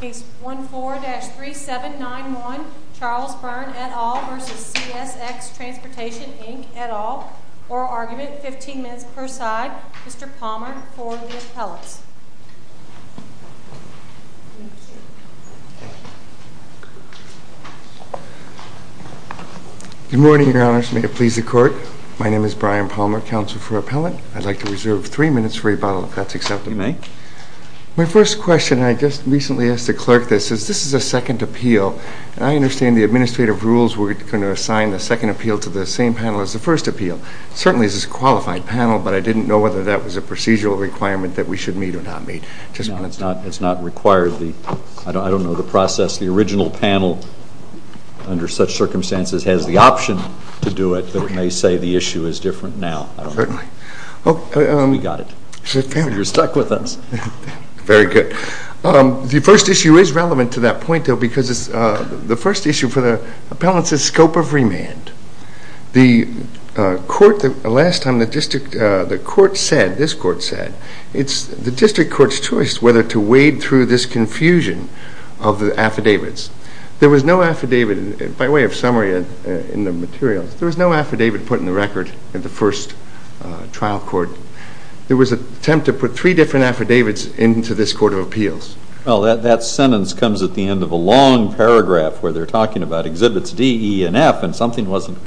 Case 14-3791, Charles Byrne et al. v. CSX Transportation Inc. et al. Oral argument, 15 minutes per side. Mr. Palmer for the appellants. Good morning, Your Honors. May it please the Court? My name is Brian Palmer, Counsel for Appellant. I'd like to reserve three minutes for rebuttal, if that's acceptable. You may. My first question, and I just recently asked the Clerk this, is this is a second appeal. And I understand the administrative rules were going to assign the second appeal to the same panel as the first appeal. Certainly this is a qualified panel, but I didn't know whether that was a procedural requirement that we should meet or not meet. No, it's not required. I don't know the process. The original panel, under such circumstances, has the option to do it. But it may say the issue is different now. Certainly. We got it. You're stuck with us. Very good. The first issue is relevant to that point, though, because the first issue for the appellants is scope of remand. The Court, the last time the District, the Court said, this Court said, it's the District Court's choice whether to wade through this confusion of the affidavits. There was no affidavit, by way of summary in the materials, there was no affidavit put in the record in the first trial court. There was an attempt to put three different affidavits into this Court of Appeals. Well, that sentence comes at the end of a long paragraph where they're talking about exhibits D, E, and F, and something wasn't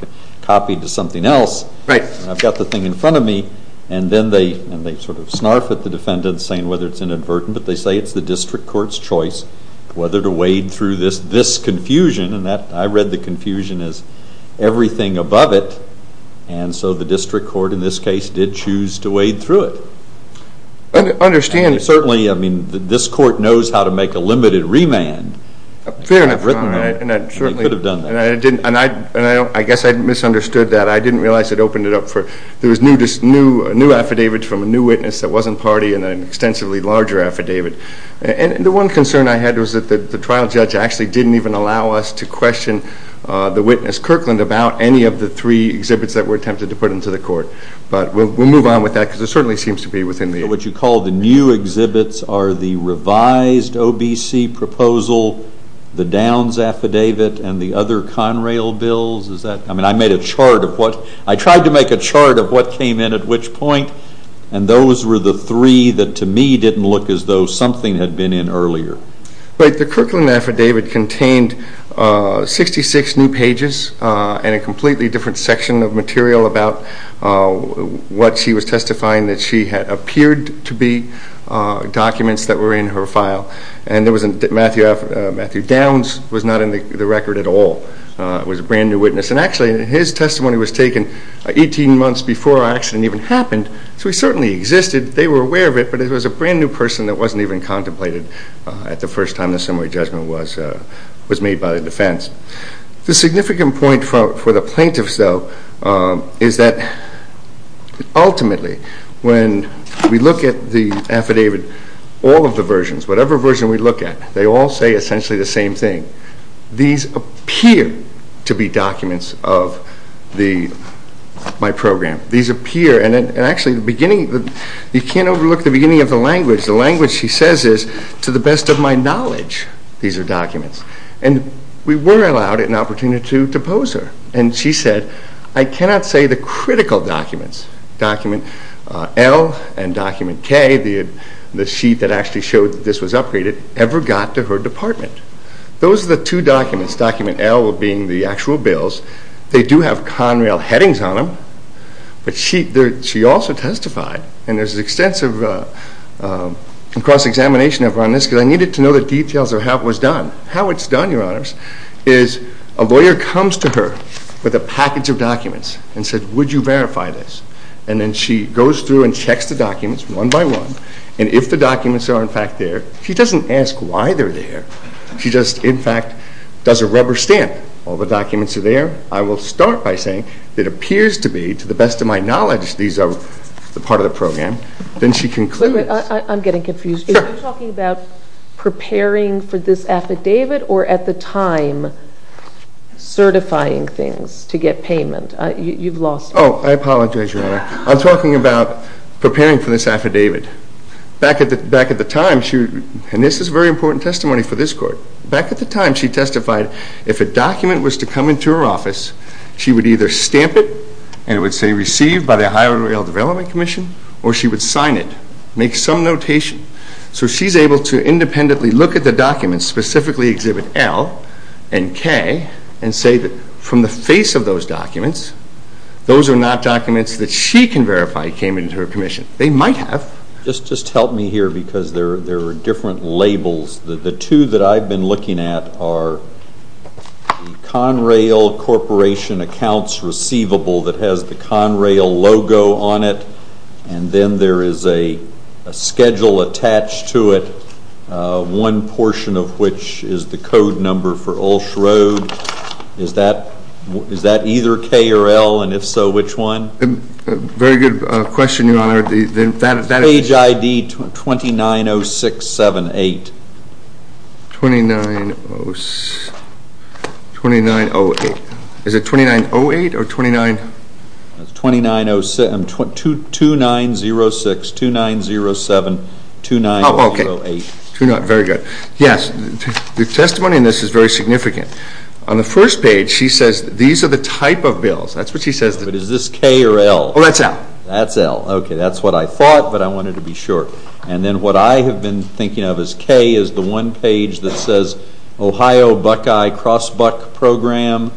copied to something else. Right. And I've got the thing in front of me, and then they sort of snarf at the defendants, saying whether it's inadvertent, but they say it's the District Court's choice whether to wade through this confusion. And I read the confusion as everything above it, and so the District Court, in this case, did choose to wade through it. I understand. Certainly, I mean, this Court knows how to make a limited remand. Fair enough. You could have done that. And I guess I misunderstood that. I didn't realize it opened it up for, there was a new affidavit from a new witness that wasn't party and an extensively larger affidavit. And the one concern I had was that the trial judge actually didn't even allow us to question the witness Kirkland about any of the three exhibits that were attempted to put into the Court. But we'll move on with that, because it certainly seems to be within the... What you call the new exhibits are the revised OBC proposal, the Downs affidavit, and the other Conrail bills. I mean, I made a chart of what, I tried to make a chart of what came in at which point, and those were the three that, to me, didn't look as though something had been in earlier. But the Kirkland affidavit contained 66 new pages and a completely different section of material about what she was testifying that she had appeared to be documents that were in her file. And there was a, Matthew Downs was not in the record at all. It was a brand new witness. And actually, his testimony was taken 18 months before our accident even happened, so he certainly existed. They were aware of it, but it was a brand new person that wasn't even contemplated at the first time the summary judgment was made by the defense. The significant point for the plaintiffs, though, is that ultimately, when we look at the affidavit, all of the versions, whatever version we look at, they all say essentially the same thing. These appear to be documents of my program. These appear, and actually, the beginning, you can't overlook the beginning of the language. The language she says is, to the best of my knowledge, these are documents. And we were allowed an opportunity to pose her. And she said, I cannot say the critical documents, document L and document K, the sheet that actually showed that this was upgraded, ever got to her department. Those are the two documents, document L being the actual bills. They do have Conrail headings on them. But she also testified, and there's extensive cross-examination on this, because I needed to know the details of how it was done. How it's done, Your Honors, is a lawyer comes to her with a package of documents and says, would you verify this? And then she goes through and checks the documents one by one, and if the documents are in fact there, she doesn't ask why they're there. She just, in fact, does a rubber stamp. All the documents are there. I will start by saying it appears to be, to the best of my knowledge, these are part of the program. Then she concludes. Wait a minute. I'm getting confused. Sure. Are you talking about preparing for this affidavit or at the time certifying things to get payment? You've lost me. Oh, I apologize, Your Honor. I'm talking about preparing for this affidavit. Back at the time, and this is very important testimony for this Court, back at the time she testified, if a document was to come into her office, she would either stamp it and it would say received by the Ohio Rail Development Commission, or she would sign it, make some notation. So she's able to independently look at the documents, specifically Exhibit L and K, and say that from the face of those documents, those are not documents that she can verify came into her commission. They might have. Just help me here because there are different labels. The two that I've been looking at are the Conrail Corporation Accounts Receivable that has the Conrail logo on it, and then there is a schedule attached to it, one portion of which is the code number for Ulsh Road. Is that either K or L? And if so, which one? Very good question, Your Honor. Page ID 290678. 2908. Is it 2908 or 29? 2906, 2907, 2908. Oh, okay. Very good. Yes, the testimony in this is very significant. On the first page, she says these are the type of bills. That's what she says. But is this K or L? Oh, that's L. That's L. Okay. That's what I thought, but I wanted to be sure. And then what I have been thinking of as K is the one page that says Ohio Buckeye Cross Buck Program,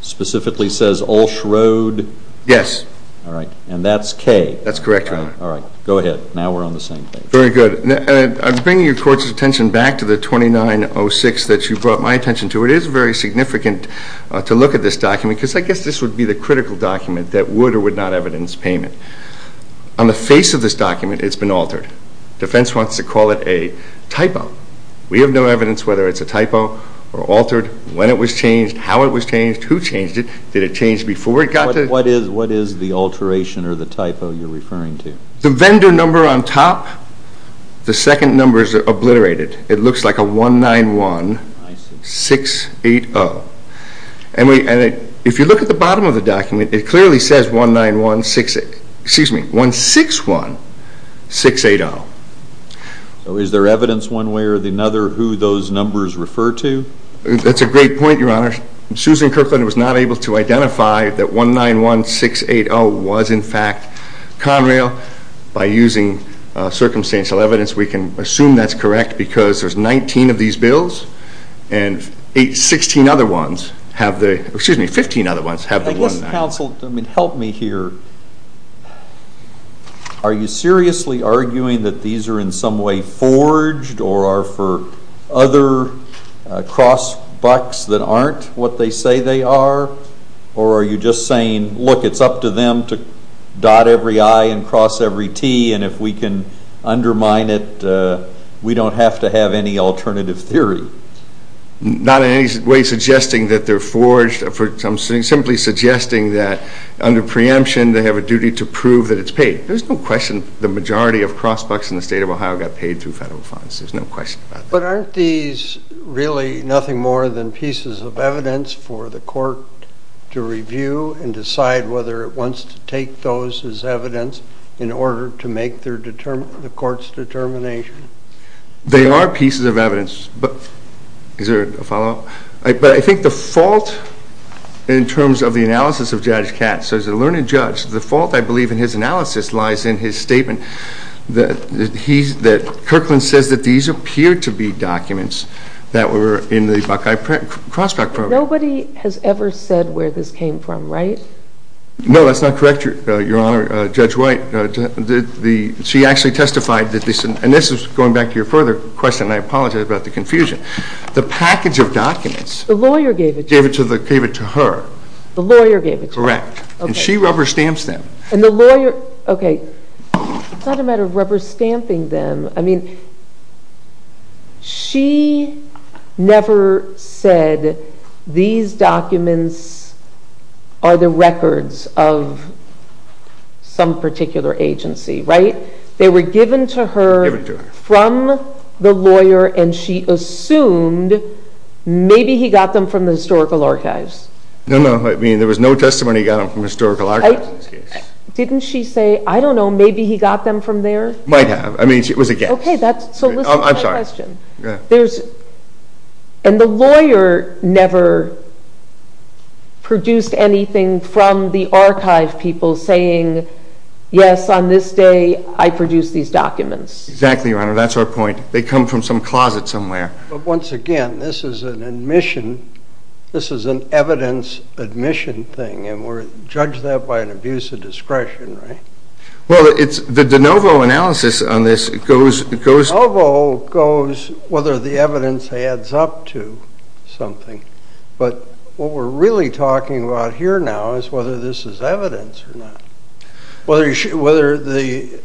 specifically says Ulsh Road. Yes. All right. And that's K. That's correct, Your Honor. All right. Go ahead. Now we're on the same page. Very good. I'm bringing your Court's attention back to the 2906 that you brought my attention to. It is very significant to look at this document because I guess this would be the critical document that would or would not evidence payment. On the face of this document, it's been altered. Defense wants to call it a typo. We have no evidence whether it's a typo or altered, when it was changed, how it was changed, who changed it, did it change before it got to? What is the alteration or the typo you're referring to? The vendor number on top. The second number is obliterated. It looks like a 191-680. And if you look at the bottom of the document, it clearly says 191, excuse me, 161-680. So is there evidence one way or another who those numbers refer to? That's a great point, Your Honor. Susan Kirkland was not able to identify that 191-680 was in fact Conrail. By using circumstantial evidence, we can assume that's correct because there's 19 of these bills. And 16 other ones have the, excuse me, 15 other ones have the one. I guess counsel, I mean, help me here. Are you seriously arguing that these are in some way forged or are for other cross bucks that aren't what they say they are? Or are you just saying, look, it's up to them to dot every I and cross every T, and if we can undermine it, we don't have to have any alternative theory? Not in any way suggesting that they're forged. I'm simply suggesting that under preemption, they have a duty to prove that it's paid. There's no question the majority of cross bucks in the state of Ohio got paid through federal funds. There's no question about that. But aren't these really nothing more than pieces of evidence for the court to review and decide whether it wants to take those as evidence in order to make the court's determination? They are pieces of evidence. Is there a follow-up? But I think the fault in terms of the analysis of Judge Katz, as a learned judge, the fault, I believe, in his analysis lies in his statement that Kirkland says that these appear to be documents that were in the Buckeye Crossback Program. Nobody has ever said where this came from, right? No, that's not correct, Your Honor. Judge White, she actually testified that this, and this is going back to your further question, and I apologize about the confusion. The package of documents The lawyer gave it to you? Gave it to her. The lawyer gave it to her? Correct. And she rubber stamps them. And the lawyer, okay, it's not a matter of rubber stamping them. I mean, she never said these documents are the records of some particular agency, right? They were given to her from the lawyer, and she assumed maybe he got them from the historical archives. No, no. I mean, there was no testimony he got them from historical archives in this case. Didn't she say, I don't know, maybe he got them from there? Might have. I mean, it was a guess. Okay, so listen to my question. I'm sorry. Go ahead. And the lawyer never produced anything from the archive people saying, yes, on this day, I produced these documents. Exactly, Your Honor. That's our point. They come from some closet somewhere. But once again, this is an admission, this is an evidence admission thing, and we're judging that by an abuse of discretion, right? Well, it's the de novo analysis on this goes. De novo goes whether the evidence adds up to something. But what we're really talking about here now is whether this is evidence or not. Whether the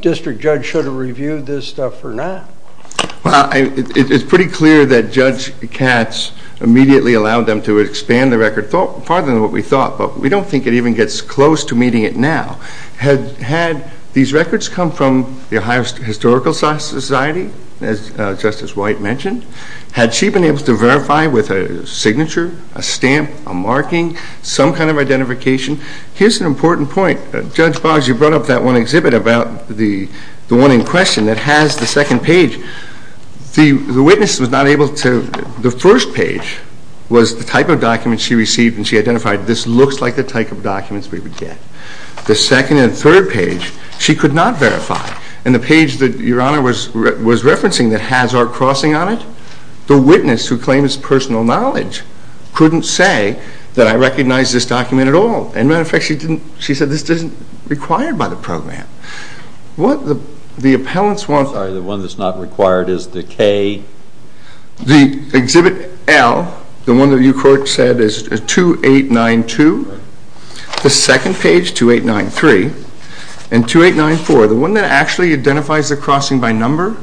district judge should have reviewed this stuff or not. Well, it's pretty clear that Judge Katz immediately allowed them to expand the record farther than what we thought, but we don't think it even gets close to meeting it now. Had these records come from the Ohio Historical Society, as Justice White mentioned? Had she been able to verify with a signature, a stamp, a marking, some kind of identification? Here's an important point. Judge Boggs, you brought up that one exhibit about the one in question that has the second page. The witness was not able to – the first page was the type of document she received and she identified this looks like the type of documents we would get. The second and third page, she could not verify. And the page that Your Honor was referencing that has our crossing on it, the witness who claims personal knowledge couldn't say that I recognize this document at all. As a matter of fact, she said this isn't required by the program. What the appellants want – Sorry, the one that's not required is the K? The exhibit L, the one that you said is 2892. The second page, 2893. And 2894, the one that actually identifies the crossing by number,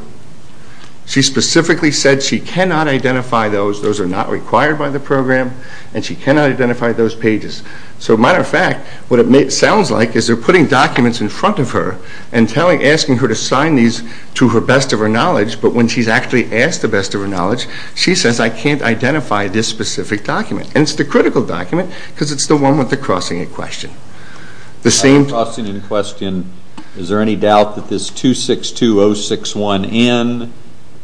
she specifically said she cannot identify those. Those are not required by the program and she cannot identify those pages. So as a matter of fact, what it sounds like is they're putting documents in front of her and asking her to sign these to her best of her knowledge, but when she's actually asked the best of her knowledge, she says I can't identify this specific document. And it's the critical document because it's the one with the crossing in question. The same – The crossing in question, is there any doubt that this 262061N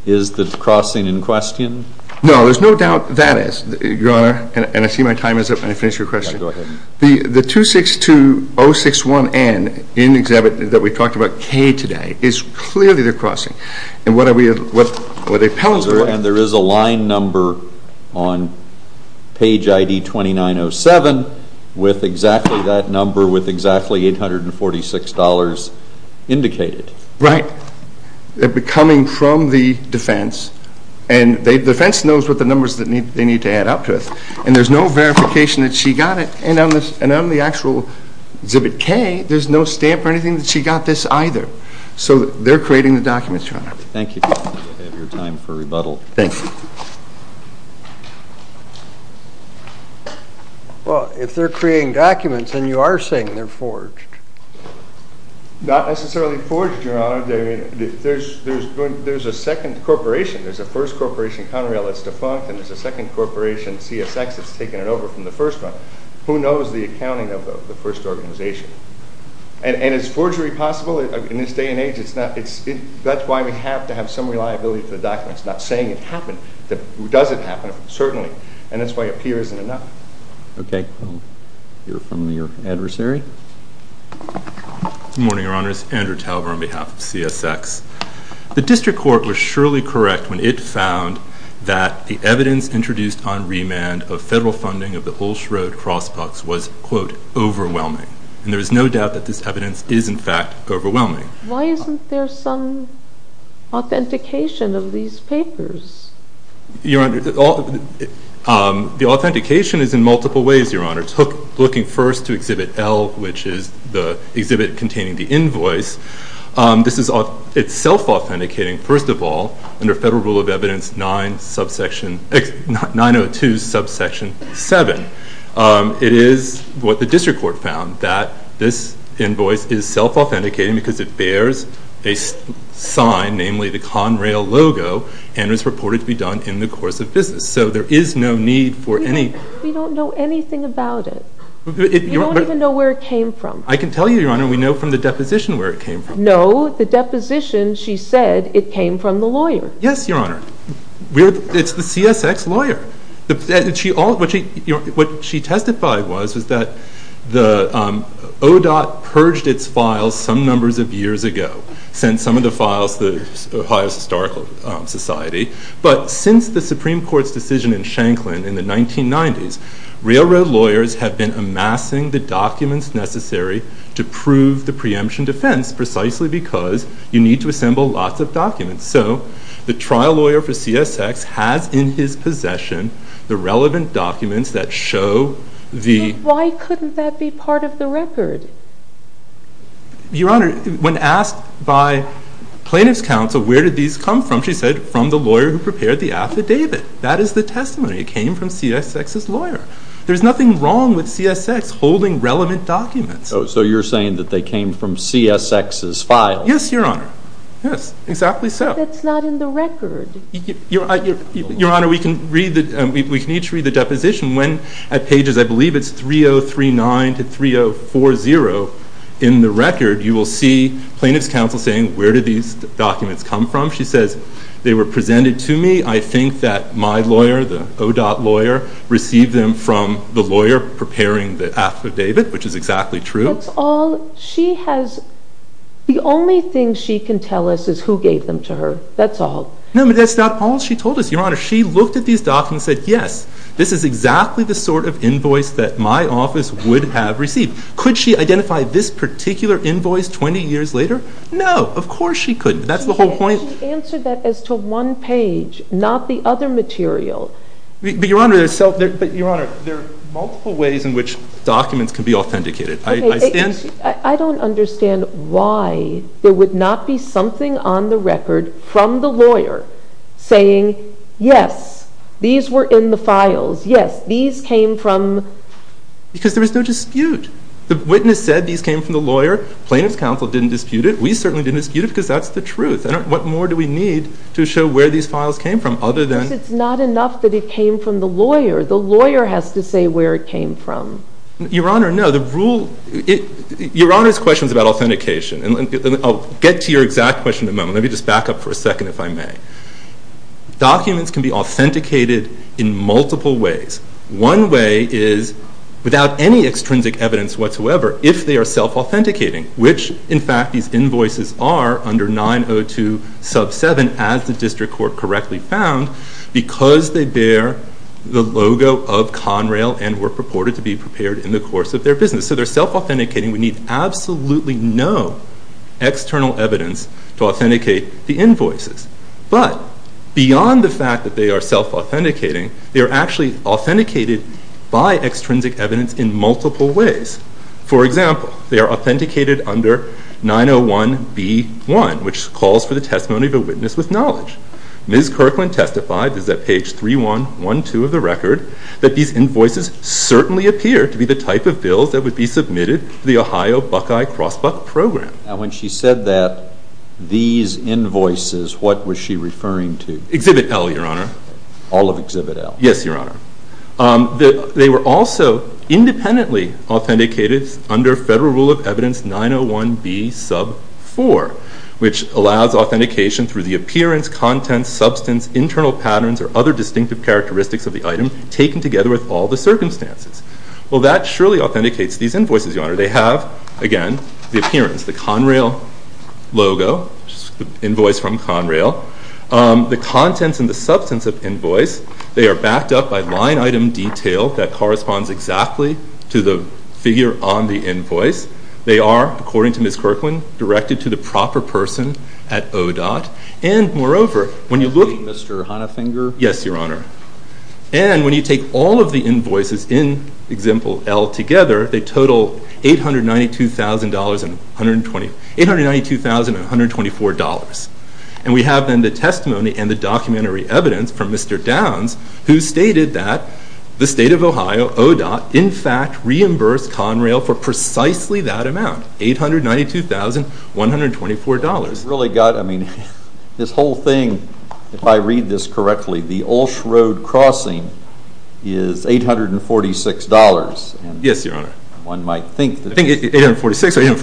is the crossing in question? No, there's no doubt that is, Your Honor. And I see my time is up and I finished your question. Go ahead. The 262061N in the exhibit that we talked about, K today, is clearly the crossing. And what are we – what the appellants want – And there is a line number on page ID 2907 with exactly that number with exactly $846 indicated. Right. They're coming from the defense and the defense knows what the numbers they need to add up to it. And there's no verification that she got it. And on the actual exhibit K, there's no stamp or anything that she got this either. So they're creating the documents, Your Honor. Thank you. You have your time for rebuttal. Thank you. Well, if they're creating documents, then you are saying they're forged. Not necessarily forged, Your Honor. There's a second corporation. There's a first corporation, Conrail, that's defunct. And there's a second corporation, CSX, that's taken it over from the first one. Who knows the accounting of the first organization? And is forgery possible? In this day and age, that's why we have to have some reliability to the documents. Not saying it happened. Does it happen? Certainly. And that's why a peer isn't enough. Okay. I'll hear from your adversary. Good morning, Your Honors. Andrew Tauber on behalf of CSX. The District Court was surely correct when it found that the evidence introduced on remand of federal funding of the Ulsh Road crossparks was, quote, overwhelming. And there is no doubt that this evidence is, in fact, overwhelming. Why isn't there some authentication of these papers? Your Honor, the authentication is in multiple ways, Your Honor. Looking first to Exhibit L, which is the exhibit containing the invoice. This is self-authenticating, first of all, under Federal Rule of Evidence 902, Subsection 7. It is what the District Court found, that this invoice is self-authenticating because it bears a sign, namely the Conrail logo, and is reported to be done in the course of business. So there is no need for any... You don't even know where it came from. I can tell you, Your Honor. We know from the deposition where it came from. No, the deposition, she said, it came from the lawyer. Yes, Your Honor. It's the CSX lawyer. What she testified was, was that ODOT purged its files some numbers of years ago, sent some of the files to the Ohio Historical Society. But since the Supreme Court's decision in Shanklin in the 1990s, railroad lawyers have been amassing the documents necessary to prove the preemption defense, precisely because you need to assemble lots of documents. So the trial lawyer for CSX has in his possession the relevant documents that show the... Why couldn't that be part of the record? Your Honor, when asked by Plaintiff's Counsel where did these come from, she said, from the lawyer who prepared the affidavit. That is the testimony. It came from CSX's lawyer. There's nothing wrong with CSX holding relevant documents. So you're saying that they came from CSX's files? Yes, Your Honor. Yes, exactly so. But that's not in the record. Your Honor, we can each read the deposition. When at pages, I believe it's 3039 to 3040 in the record, you will see Plaintiff's Counsel saying, where did these documents come from? She says, they were presented to me. I think that my lawyer, the ODOT lawyer, received them from the lawyer preparing the affidavit, which is exactly true. That's all she has... The only thing she can tell us is who gave them to her. That's all. No, but that's not all she told us, Your Honor. She looked at these documents and said, yes, this is exactly the sort of invoice that my office would have received. Could she identify this particular invoice 20 years later? No, of course she couldn't. That's the whole point. She answered that as to one page, not the other material. But, Your Honor, there are multiple ways in which documents can be authenticated. I don't understand why there would not be something on the record from the lawyer saying, yes, these were in the files. Yes, these came from... Because there was no dispute. The witness said these came from the lawyer. Plaintiff's Counsel didn't dispute it. We certainly didn't dispute it because that's the truth. What more do we need to show where these files came from other than... Because it's not enough that it came from the lawyer. The lawyer has to say where it came from. Your Honor, no. The rule... Your Honor's question is about authentication. I'll get to your exact question in a moment. Let me just back up for a second, if I may. Documents can be authenticated in multiple ways. One way is without any extrinsic evidence whatsoever, if they are self-authenticating, which, in fact, these invoices are under 902 sub 7 as the District Court correctly found because they bear the logo of Conrail and were purported to be prepared in the course of their business. So they're self-authenticating. We need absolutely no external evidence to authenticate the invoices. But beyond the fact that they are self-authenticating, they are actually authenticated by extrinsic evidence in multiple ways. For example, they are authenticated under 901B1, which calls for the testimony of a witness with knowledge. Ms. Kirkland testified, as at page 3112 of the record, that these invoices certainly appear to be the type of bills that would be submitted to the Ohio Buckeye Crossbuck Program. Now, when she said that, these invoices, what was she referring to? Exhibit L, Your Honor. All of Exhibit L? Yes, Your Honor. They were also independently authenticated under Federal Rule of Evidence 901B sub 4, which allows authentication through the appearance, contents, substance, internal patterns, or other distinctive characteristics of the item taken together with all the circumstances. Well, that surely authenticates these invoices, Your Honor. They have, again, the appearance, the Conrail logo, which is the invoice from Conrail. The contents and the substance of the invoice, they are backed up by line item detail that corresponds exactly to the figure on the invoice. They are, according to Ms. Kirkland, directed to the proper person at ODOT. And, moreover, when you look... Mr. Honefinger? Yes, Your Honor. And when you take all of the invoices in Exhibit L together, they total $892,124. And we have then the testimony and the documentary evidence from Mr. Downs, who stated that the State of Ohio, ODOT, in fact, reimbursed Conrail for precisely that amount, $892,124. This whole thing, if I read this correctly, the Ulsh Road crossing is $846. Yes, Your Honor. One might think... I think it's $846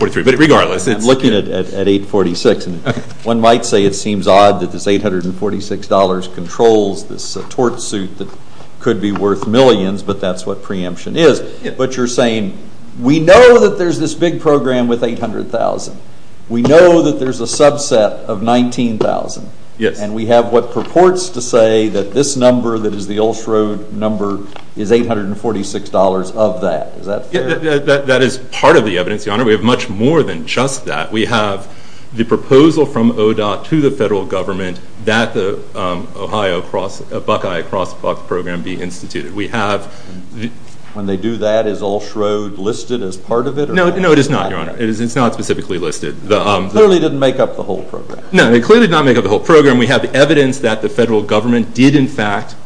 or $843, but regardless... I'm looking at $846. One might say it seems odd that this $846 controls this tort suit that could be worth millions, but that's what preemption is. But you're saying, we know that there's this big program with $800,000. We know that there's a subset of $19,000. Yes. And we have what purports to say that this number that is the Ulsh Road number is $846 of that. Is that fair? That is part of the evidence, Your Honor. We have much more than just that. We have the proposal from ODOT to the federal government that the Ohio Buckeye Crosswalk Program be instituted. We have... When they do that, is Ulsh Road listed as part of it? No, it is not, Your Honor. It's not specifically listed. It clearly didn't make up the whole program. No, it clearly did not make up the whole program. We have evidence that the federal government did, in fact,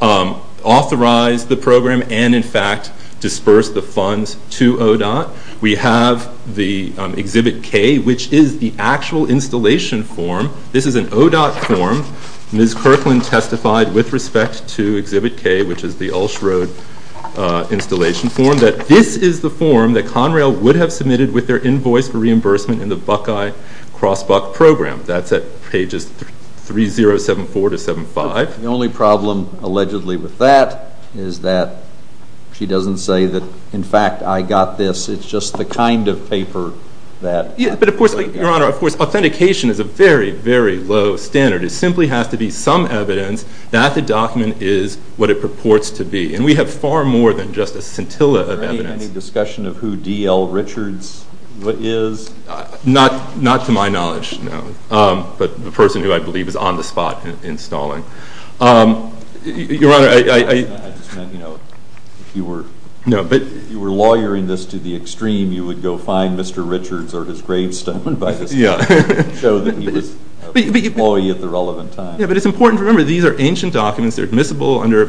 authorize the program and, in fact, disbursed the funds to ODOT. We have the Exhibit K, which is the actual installation form. This is an ODOT form. Ms. Kirkland testified with respect to Exhibit K, which is the Ulsh Road installation form, that this is the form that Conrail would have submitted with their invoice for reimbursement in the Buckeye Crosswalk Program. That's at pages 3074-75. The only problem, allegedly, with that is that she doesn't say that, in fact, I got this. It's just the kind of paper that... But, of course, Your Honor, authentication is a very, very low standard. It simply has to be some evidence that the document is what it purports to be. And we have far more than just a scintilla of evidence. Any discussion of who D.L. Richards is? Not to my knowledge, no. But the person who I believe is on the spot installing. Your Honor, I... I just meant, you know, if you were... If you were lawyering this to the extreme, you would go find Mr. Richards or his gravestone and show that he was an employee at the relevant time. Yeah, but it's important to remember these are ancient documents. They're admissible under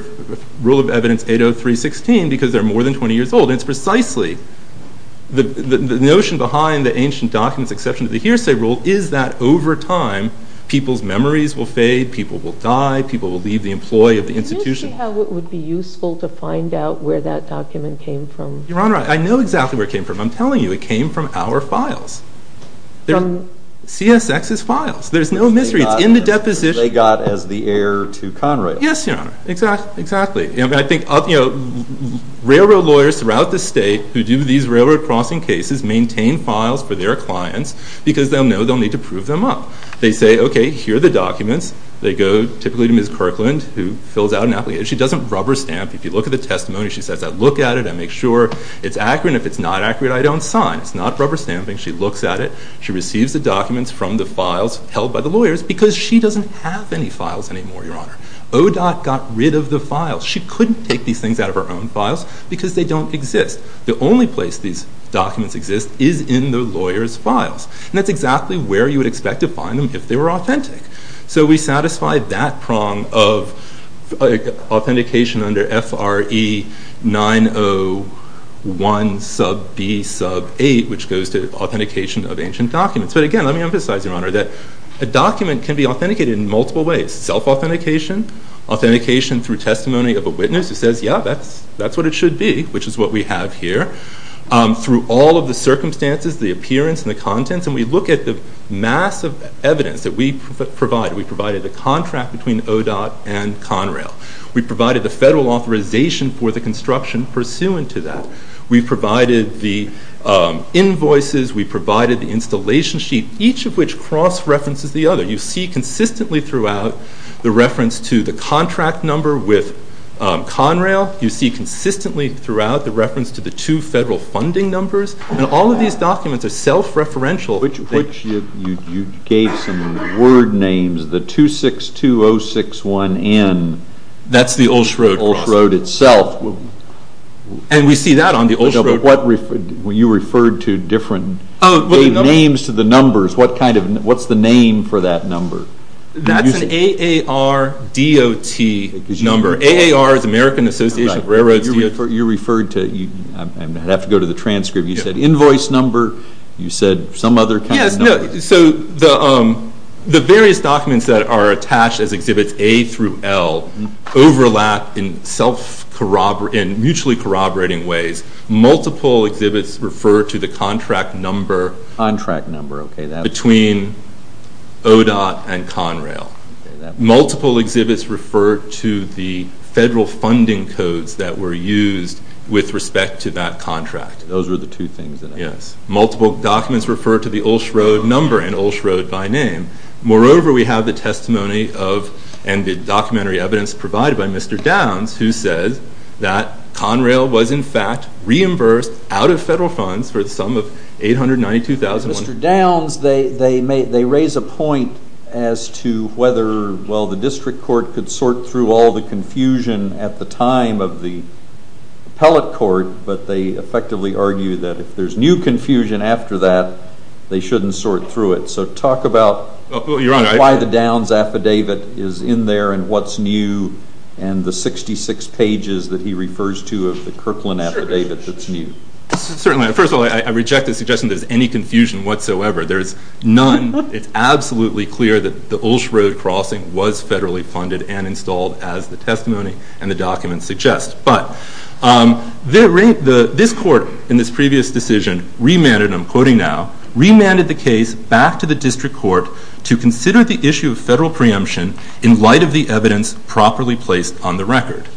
Rule of Evidence 803-16 because they're more than 20 years old. And it's precisely the notion behind the ancient documents exception to the hearsay rule is that over time, people's memories will fade, people will die, people will leave the employ of the institution. Can you say how it would be useful to find out where that document came from? Your Honor, I know exactly where it came from. I'm telling you, it came from our files. From... CSX's files. There's no misreads. In the deposition... They got as the heir to Conrad. Yes, Your Honor. Exactly. I think, you know, railroad lawyers throughout the state who do these railroad crossing cases maintain files for their clients because they'll know they'll need to prove them up. They say, okay, here are the documents. They go typically to Ms. Kirkland who fills out an application. She doesn't rubber stamp If you look at the testimony, she says, I look at it, I make sure it's accurate, and if it's not accurate, I don't sign. It's not rubber stamping. She looks at it. She receives the documents from the files held by the lawyers because she doesn't have any files anymore, Your Honor. ODOT got rid of the files. She couldn't take these things out of her own files because they don't exist. The only place these documents exist is in the lawyers' files. That's exactly where you would expect to find them if they were authentic. So we satisfy that prong of authentication under F.R.E. 901 sub B sub 8 which goes to authentication of ancient documents. But again, let me emphasize, Your Honor, that a document can be authenticated in multiple ways. Self-authentication, authentication through testimony of a witness who says, yeah, that's what it should be, which is what we have here, through all of the circumstances, the appearance, and the contents. And we look at the massive evidence that we provide. We provided the contract between ODOT and Conrail. We provided the federal authorization for the construction pursuant to that. We provided the invoices. We provided the installation sheet, each of which cross-references the other. You see consistently throughout the reference to the contract number with Conrail. You see consistently throughout the reference to the two federal funding numbers. And all of these documents are self-referential. Which you gave some word names. The 262061N. That's the Ulsch Road. The Ulsch Road itself. And we see that on the Ulsch Road. You referred to different names to the numbers. What's the name for that number? That's an AARDOT number. AAR is American Association of Railroads. You referred to, I have to go to the transcript. You said invoice number. You said some other kind of number. The various documents that are attached as exhibits A through L overlap in mutually corroborating ways. Multiple exhibits refer to the contract number between ODOT and Conrail. Multiple exhibits refer to the federal funding codes that were used with respect to that contract. Those were the two things. Multiple documents refer to the Ulsch Road number and Ulsch Road by name. Moreover, we have the testimony and the documentary evidence provided by Mr. Downs who says that Conrail was in fact reimbursed out of federal funds for the sum of $892,100. Mr. Downs, they raise a point as to whether the district court could sort through all the confusion at the time of the argument that if there's new confusion after that, they shouldn't sort through it. So talk about why the Downs affidavit is in there and what's new and the 66 pages that he refers to of the Kirkland affidavit that's new. Certainly. First of all, I reject the suggestion that there's any confusion whatsoever. There's none. It's absolutely clear that the Ulsch Road crossing was federally funded and installed as the testimony and the documents suggest. But this court in this previous decision remanded, and I'm quoting now, remanded the case back to the district court to consider the issue of federal preemption in light of the evidence properly placed on the record.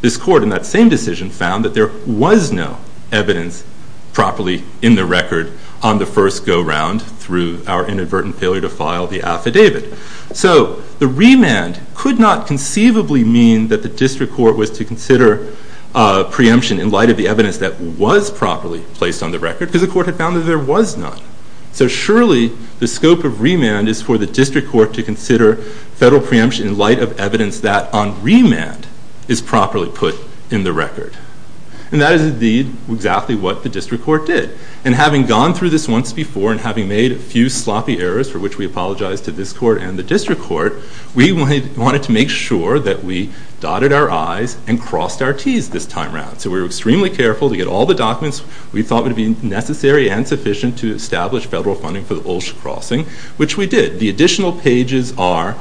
This court in that same decision found that there was no evidence properly in the record on the first go-round through our inadvertent failure to file the affidavit. So the remand could not conceivably mean that the district court was to consider preemption in light of the evidence that was properly placed on the record because the court had found that there was none. So surely the scope of remand is for the district court to consider federal preemption in light of evidence that on remand is properly put in the record. And that is indeed exactly what the district court did. And having gone through this once before and having made a few sloppy errors, for which we apologize to this court and the district court, we wanted to make sure that we dotted our I's and crossed our T's this time around. So we were extremely careful to get all the documents we thought would be necessary and sufficient to establish federal funding for the Ulsh Crossing, which we did. The additional pages are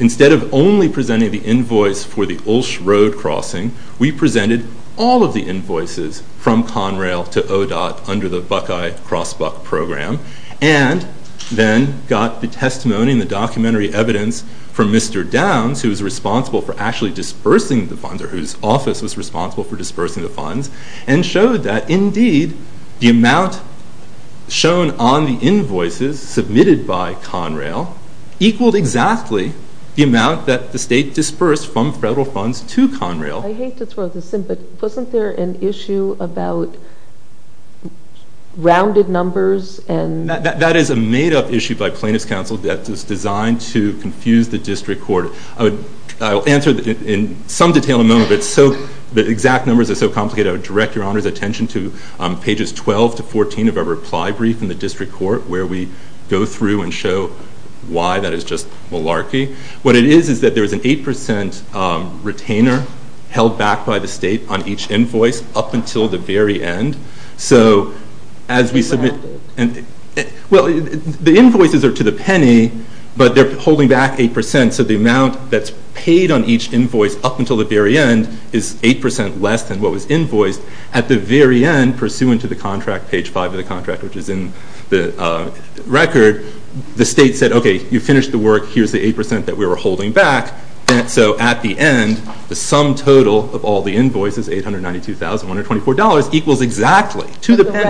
instead of only presenting the invoice for the Ulsh Road Crossing, we presented all of the invoices from Conrail to ODOT under the Buckeye Cross Buc program, and then got the testimony and the testimony of Senator Downs, who is responsible for actually dispersing the funds, or whose office was responsible for dispersing the funds, and showed that indeed the amount shown on the invoices submitted by Conrail equaled exactly the amount that the state dispersed from federal funds to Conrail. I hate to throw this in, but wasn't there an issue about rounded numbers and... That is a made-up issue by plaintiff's counsel that is designed to confuse the district court. I'll answer in some detail in a moment, but the exact numbers are so complicated, I would direct your honor's attention to pages 12 to 14 of our reply brief in the district court, where we go through and show why that is just malarkey. What it is, is that there is an 8% retainer held back by the state on each invoice up until the very end. So, as we submit... The invoices are to the penny, but they're holding back 8%, so the amount that's paid on each invoice up until the very end is 8% less than what was invoiced. At the very end, pursuant to the contract, page 5 of the contract, which is in the record, the state said, okay, you finished the work, here's the 8% that we were holding back. So, at the end, the sum total of all the invoices, $892,124, equals exactly to the penny. The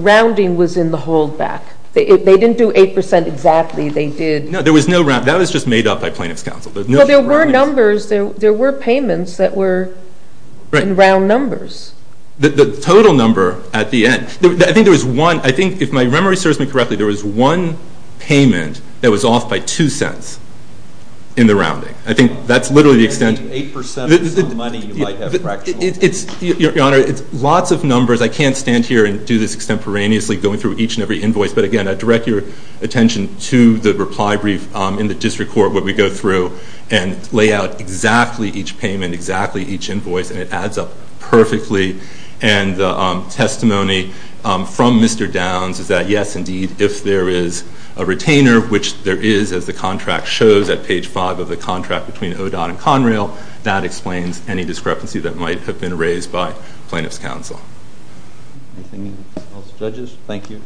rounding was in the holdback. They didn't do 8% exactly. That was just made up by plaintiff's counsel. There were payments that were in round numbers. The total number at the end... If my memory serves me correctly, there was one payment that was off by 2 cents in the rounding. I think that's literally the extent... 8% is the money you might have fractured. Your Honor, it's lots of numbers. I can't stand here and do this extemporaneously, going through each and every invoice, but again, I direct your attention to the reply brief in the district court, where we go through and lay out exactly each payment, exactly each invoice, and it adds up perfectly. And the testimony from Mr. Downs is that, yes, indeed, if there is a retainer, which there is, as the contract shows at page 5 of the contract between ODOT and Conrail, that explains any discrepancy that might have been raised by plaintiff's counsel. Anything else, judges? Thank you.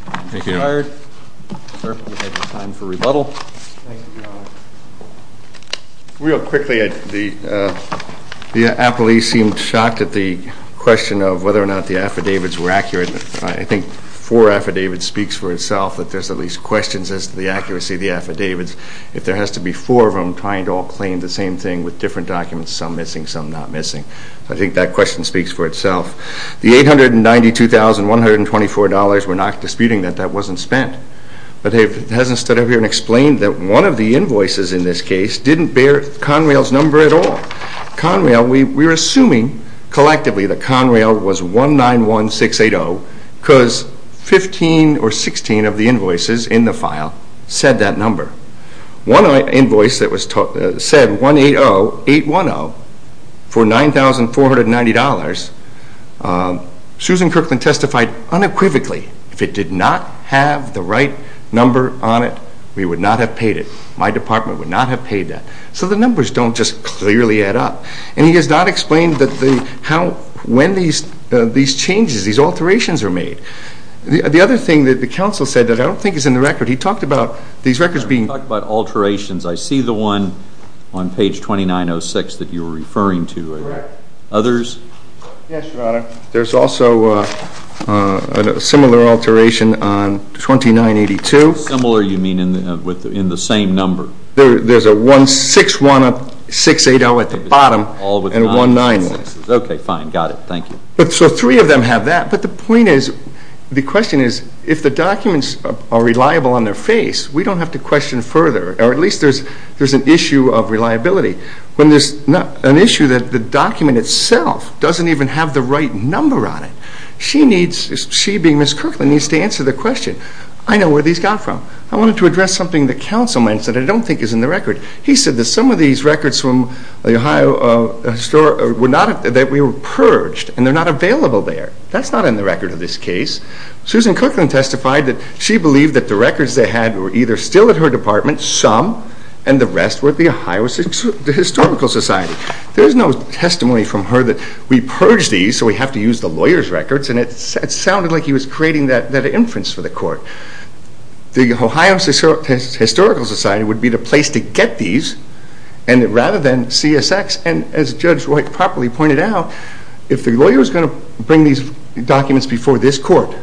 Time for rebuttal. Real quickly, the appellee seemed shocked at the question of whether or not the affidavits were accurate. I think 4 affidavits speaks for itself that there's at least questions as to the accuracy of the affidavits. If there has to be 4 of them trying to all claim the same thing with different documents, some missing, some not missing. I think that question speaks for itself. The $892,124, we're not disputing that, that wasn't spent. But it hasn't stood up here and explained that one of the invoices in this case didn't bear Conrail's number at all. Conrail, we're assuming collectively that Conrail was 191680 because 15 or 16 of the invoices in the file said that number. One invoice said 180810 for $9,490 Susan Kirkland testified unequivocally, if it did not have the right number on it we would not have paid it. My department would not have paid that. So the numbers don't just clearly add up. And he has not explained when these changes, these alterations are made. The other thing that the counsel said that I don't think is in the record. He talked about these records being I see the one on page 2906 that you were referring to. Others? Yes, Your Honor. There's also a similar alteration on 2982. Similar you mean in the same number? There's a 161680 at the bottom and 191680. Okay, fine, got it. Thank you. So three of them have that. But the point is if the documents are reliable on their face, we don't have to question further or at least there's an issue of reliability. An issue that the document itself doesn't even have the right number on it. She needs to answer the question. I know where these got from. I wanted to address something that counsel said that I don't think is in the record. He said that some of these records were purged and they're not available there. That's not in the record of this case. Susan Cookland testified that she believed that the records they had were either still at her department, some, and the rest were at the Ohio Historical Society. There's no testimony from her that we purged these so we have to use the lawyer's records and it sounded like he was creating that inference for the court. The Ohio Historical Society would be the place to get these rather than CSX and as Judge Wright properly pointed out, if the lawyer was going to bring these documents before this court,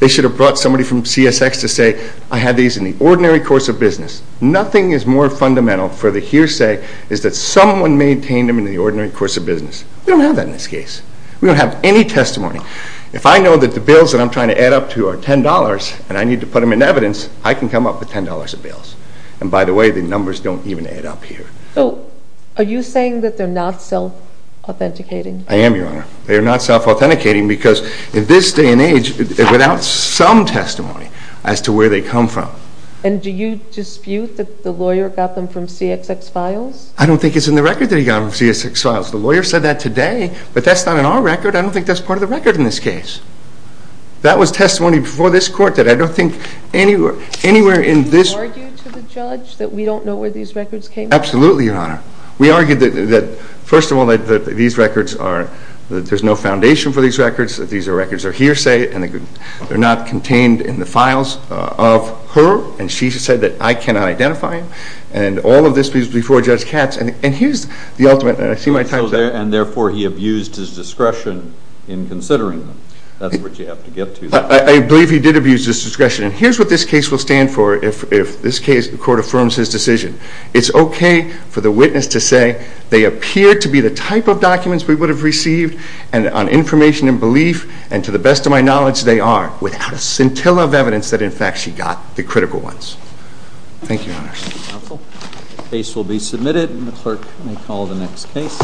they should have brought somebody from CSX to say, I had these in the ordinary course of business. Nothing is more fundamental for the hearsay is that someone maintained them in the ordinary course of business. We don't have that in this case. We don't have any testimony. If I know that the bills that I'm trying to add up to are $10 and I need to put them in evidence, I can come up with $10 of bills. And by the way, the numbers don't even add up here. So, are you saying that they're not self-authenticating? I am, Your Honor. They're not self-authenticating because in this day and age, without some testimony as to where they come from. And do you dispute that the lawyer got them from CSX files? I don't think it's in the record that he got them from CSX files. The lawyer said that today, but that's not in our record. I don't think that's part of the record in this case. That was testimony before this court that I don't think anywhere in this... Do you argue to the judge that we don't know where these records came from? Absolutely, Your Honor. We argue that, first of all, that these records are... There's no foundation for these records. These records are hearsay. They're not contained in the files of her. And she said that I cannot identify him. And all of this was before Judge Katz. And here's the ultimate... And therefore he abused his discretion in considering them. That's what you have to get to. I believe he did abuse his discretion. And here's what this case will stand for if this court affirms his decision. It's okay for the witness to say they appear to be the type of documents we would have received on information and belief. And to the best of my knowledge, they are. Without a scintilla of evidence that, in fact, she got the critical ones. Thank you, Your Honor. The case will be submitted, and the clerk may call the next case.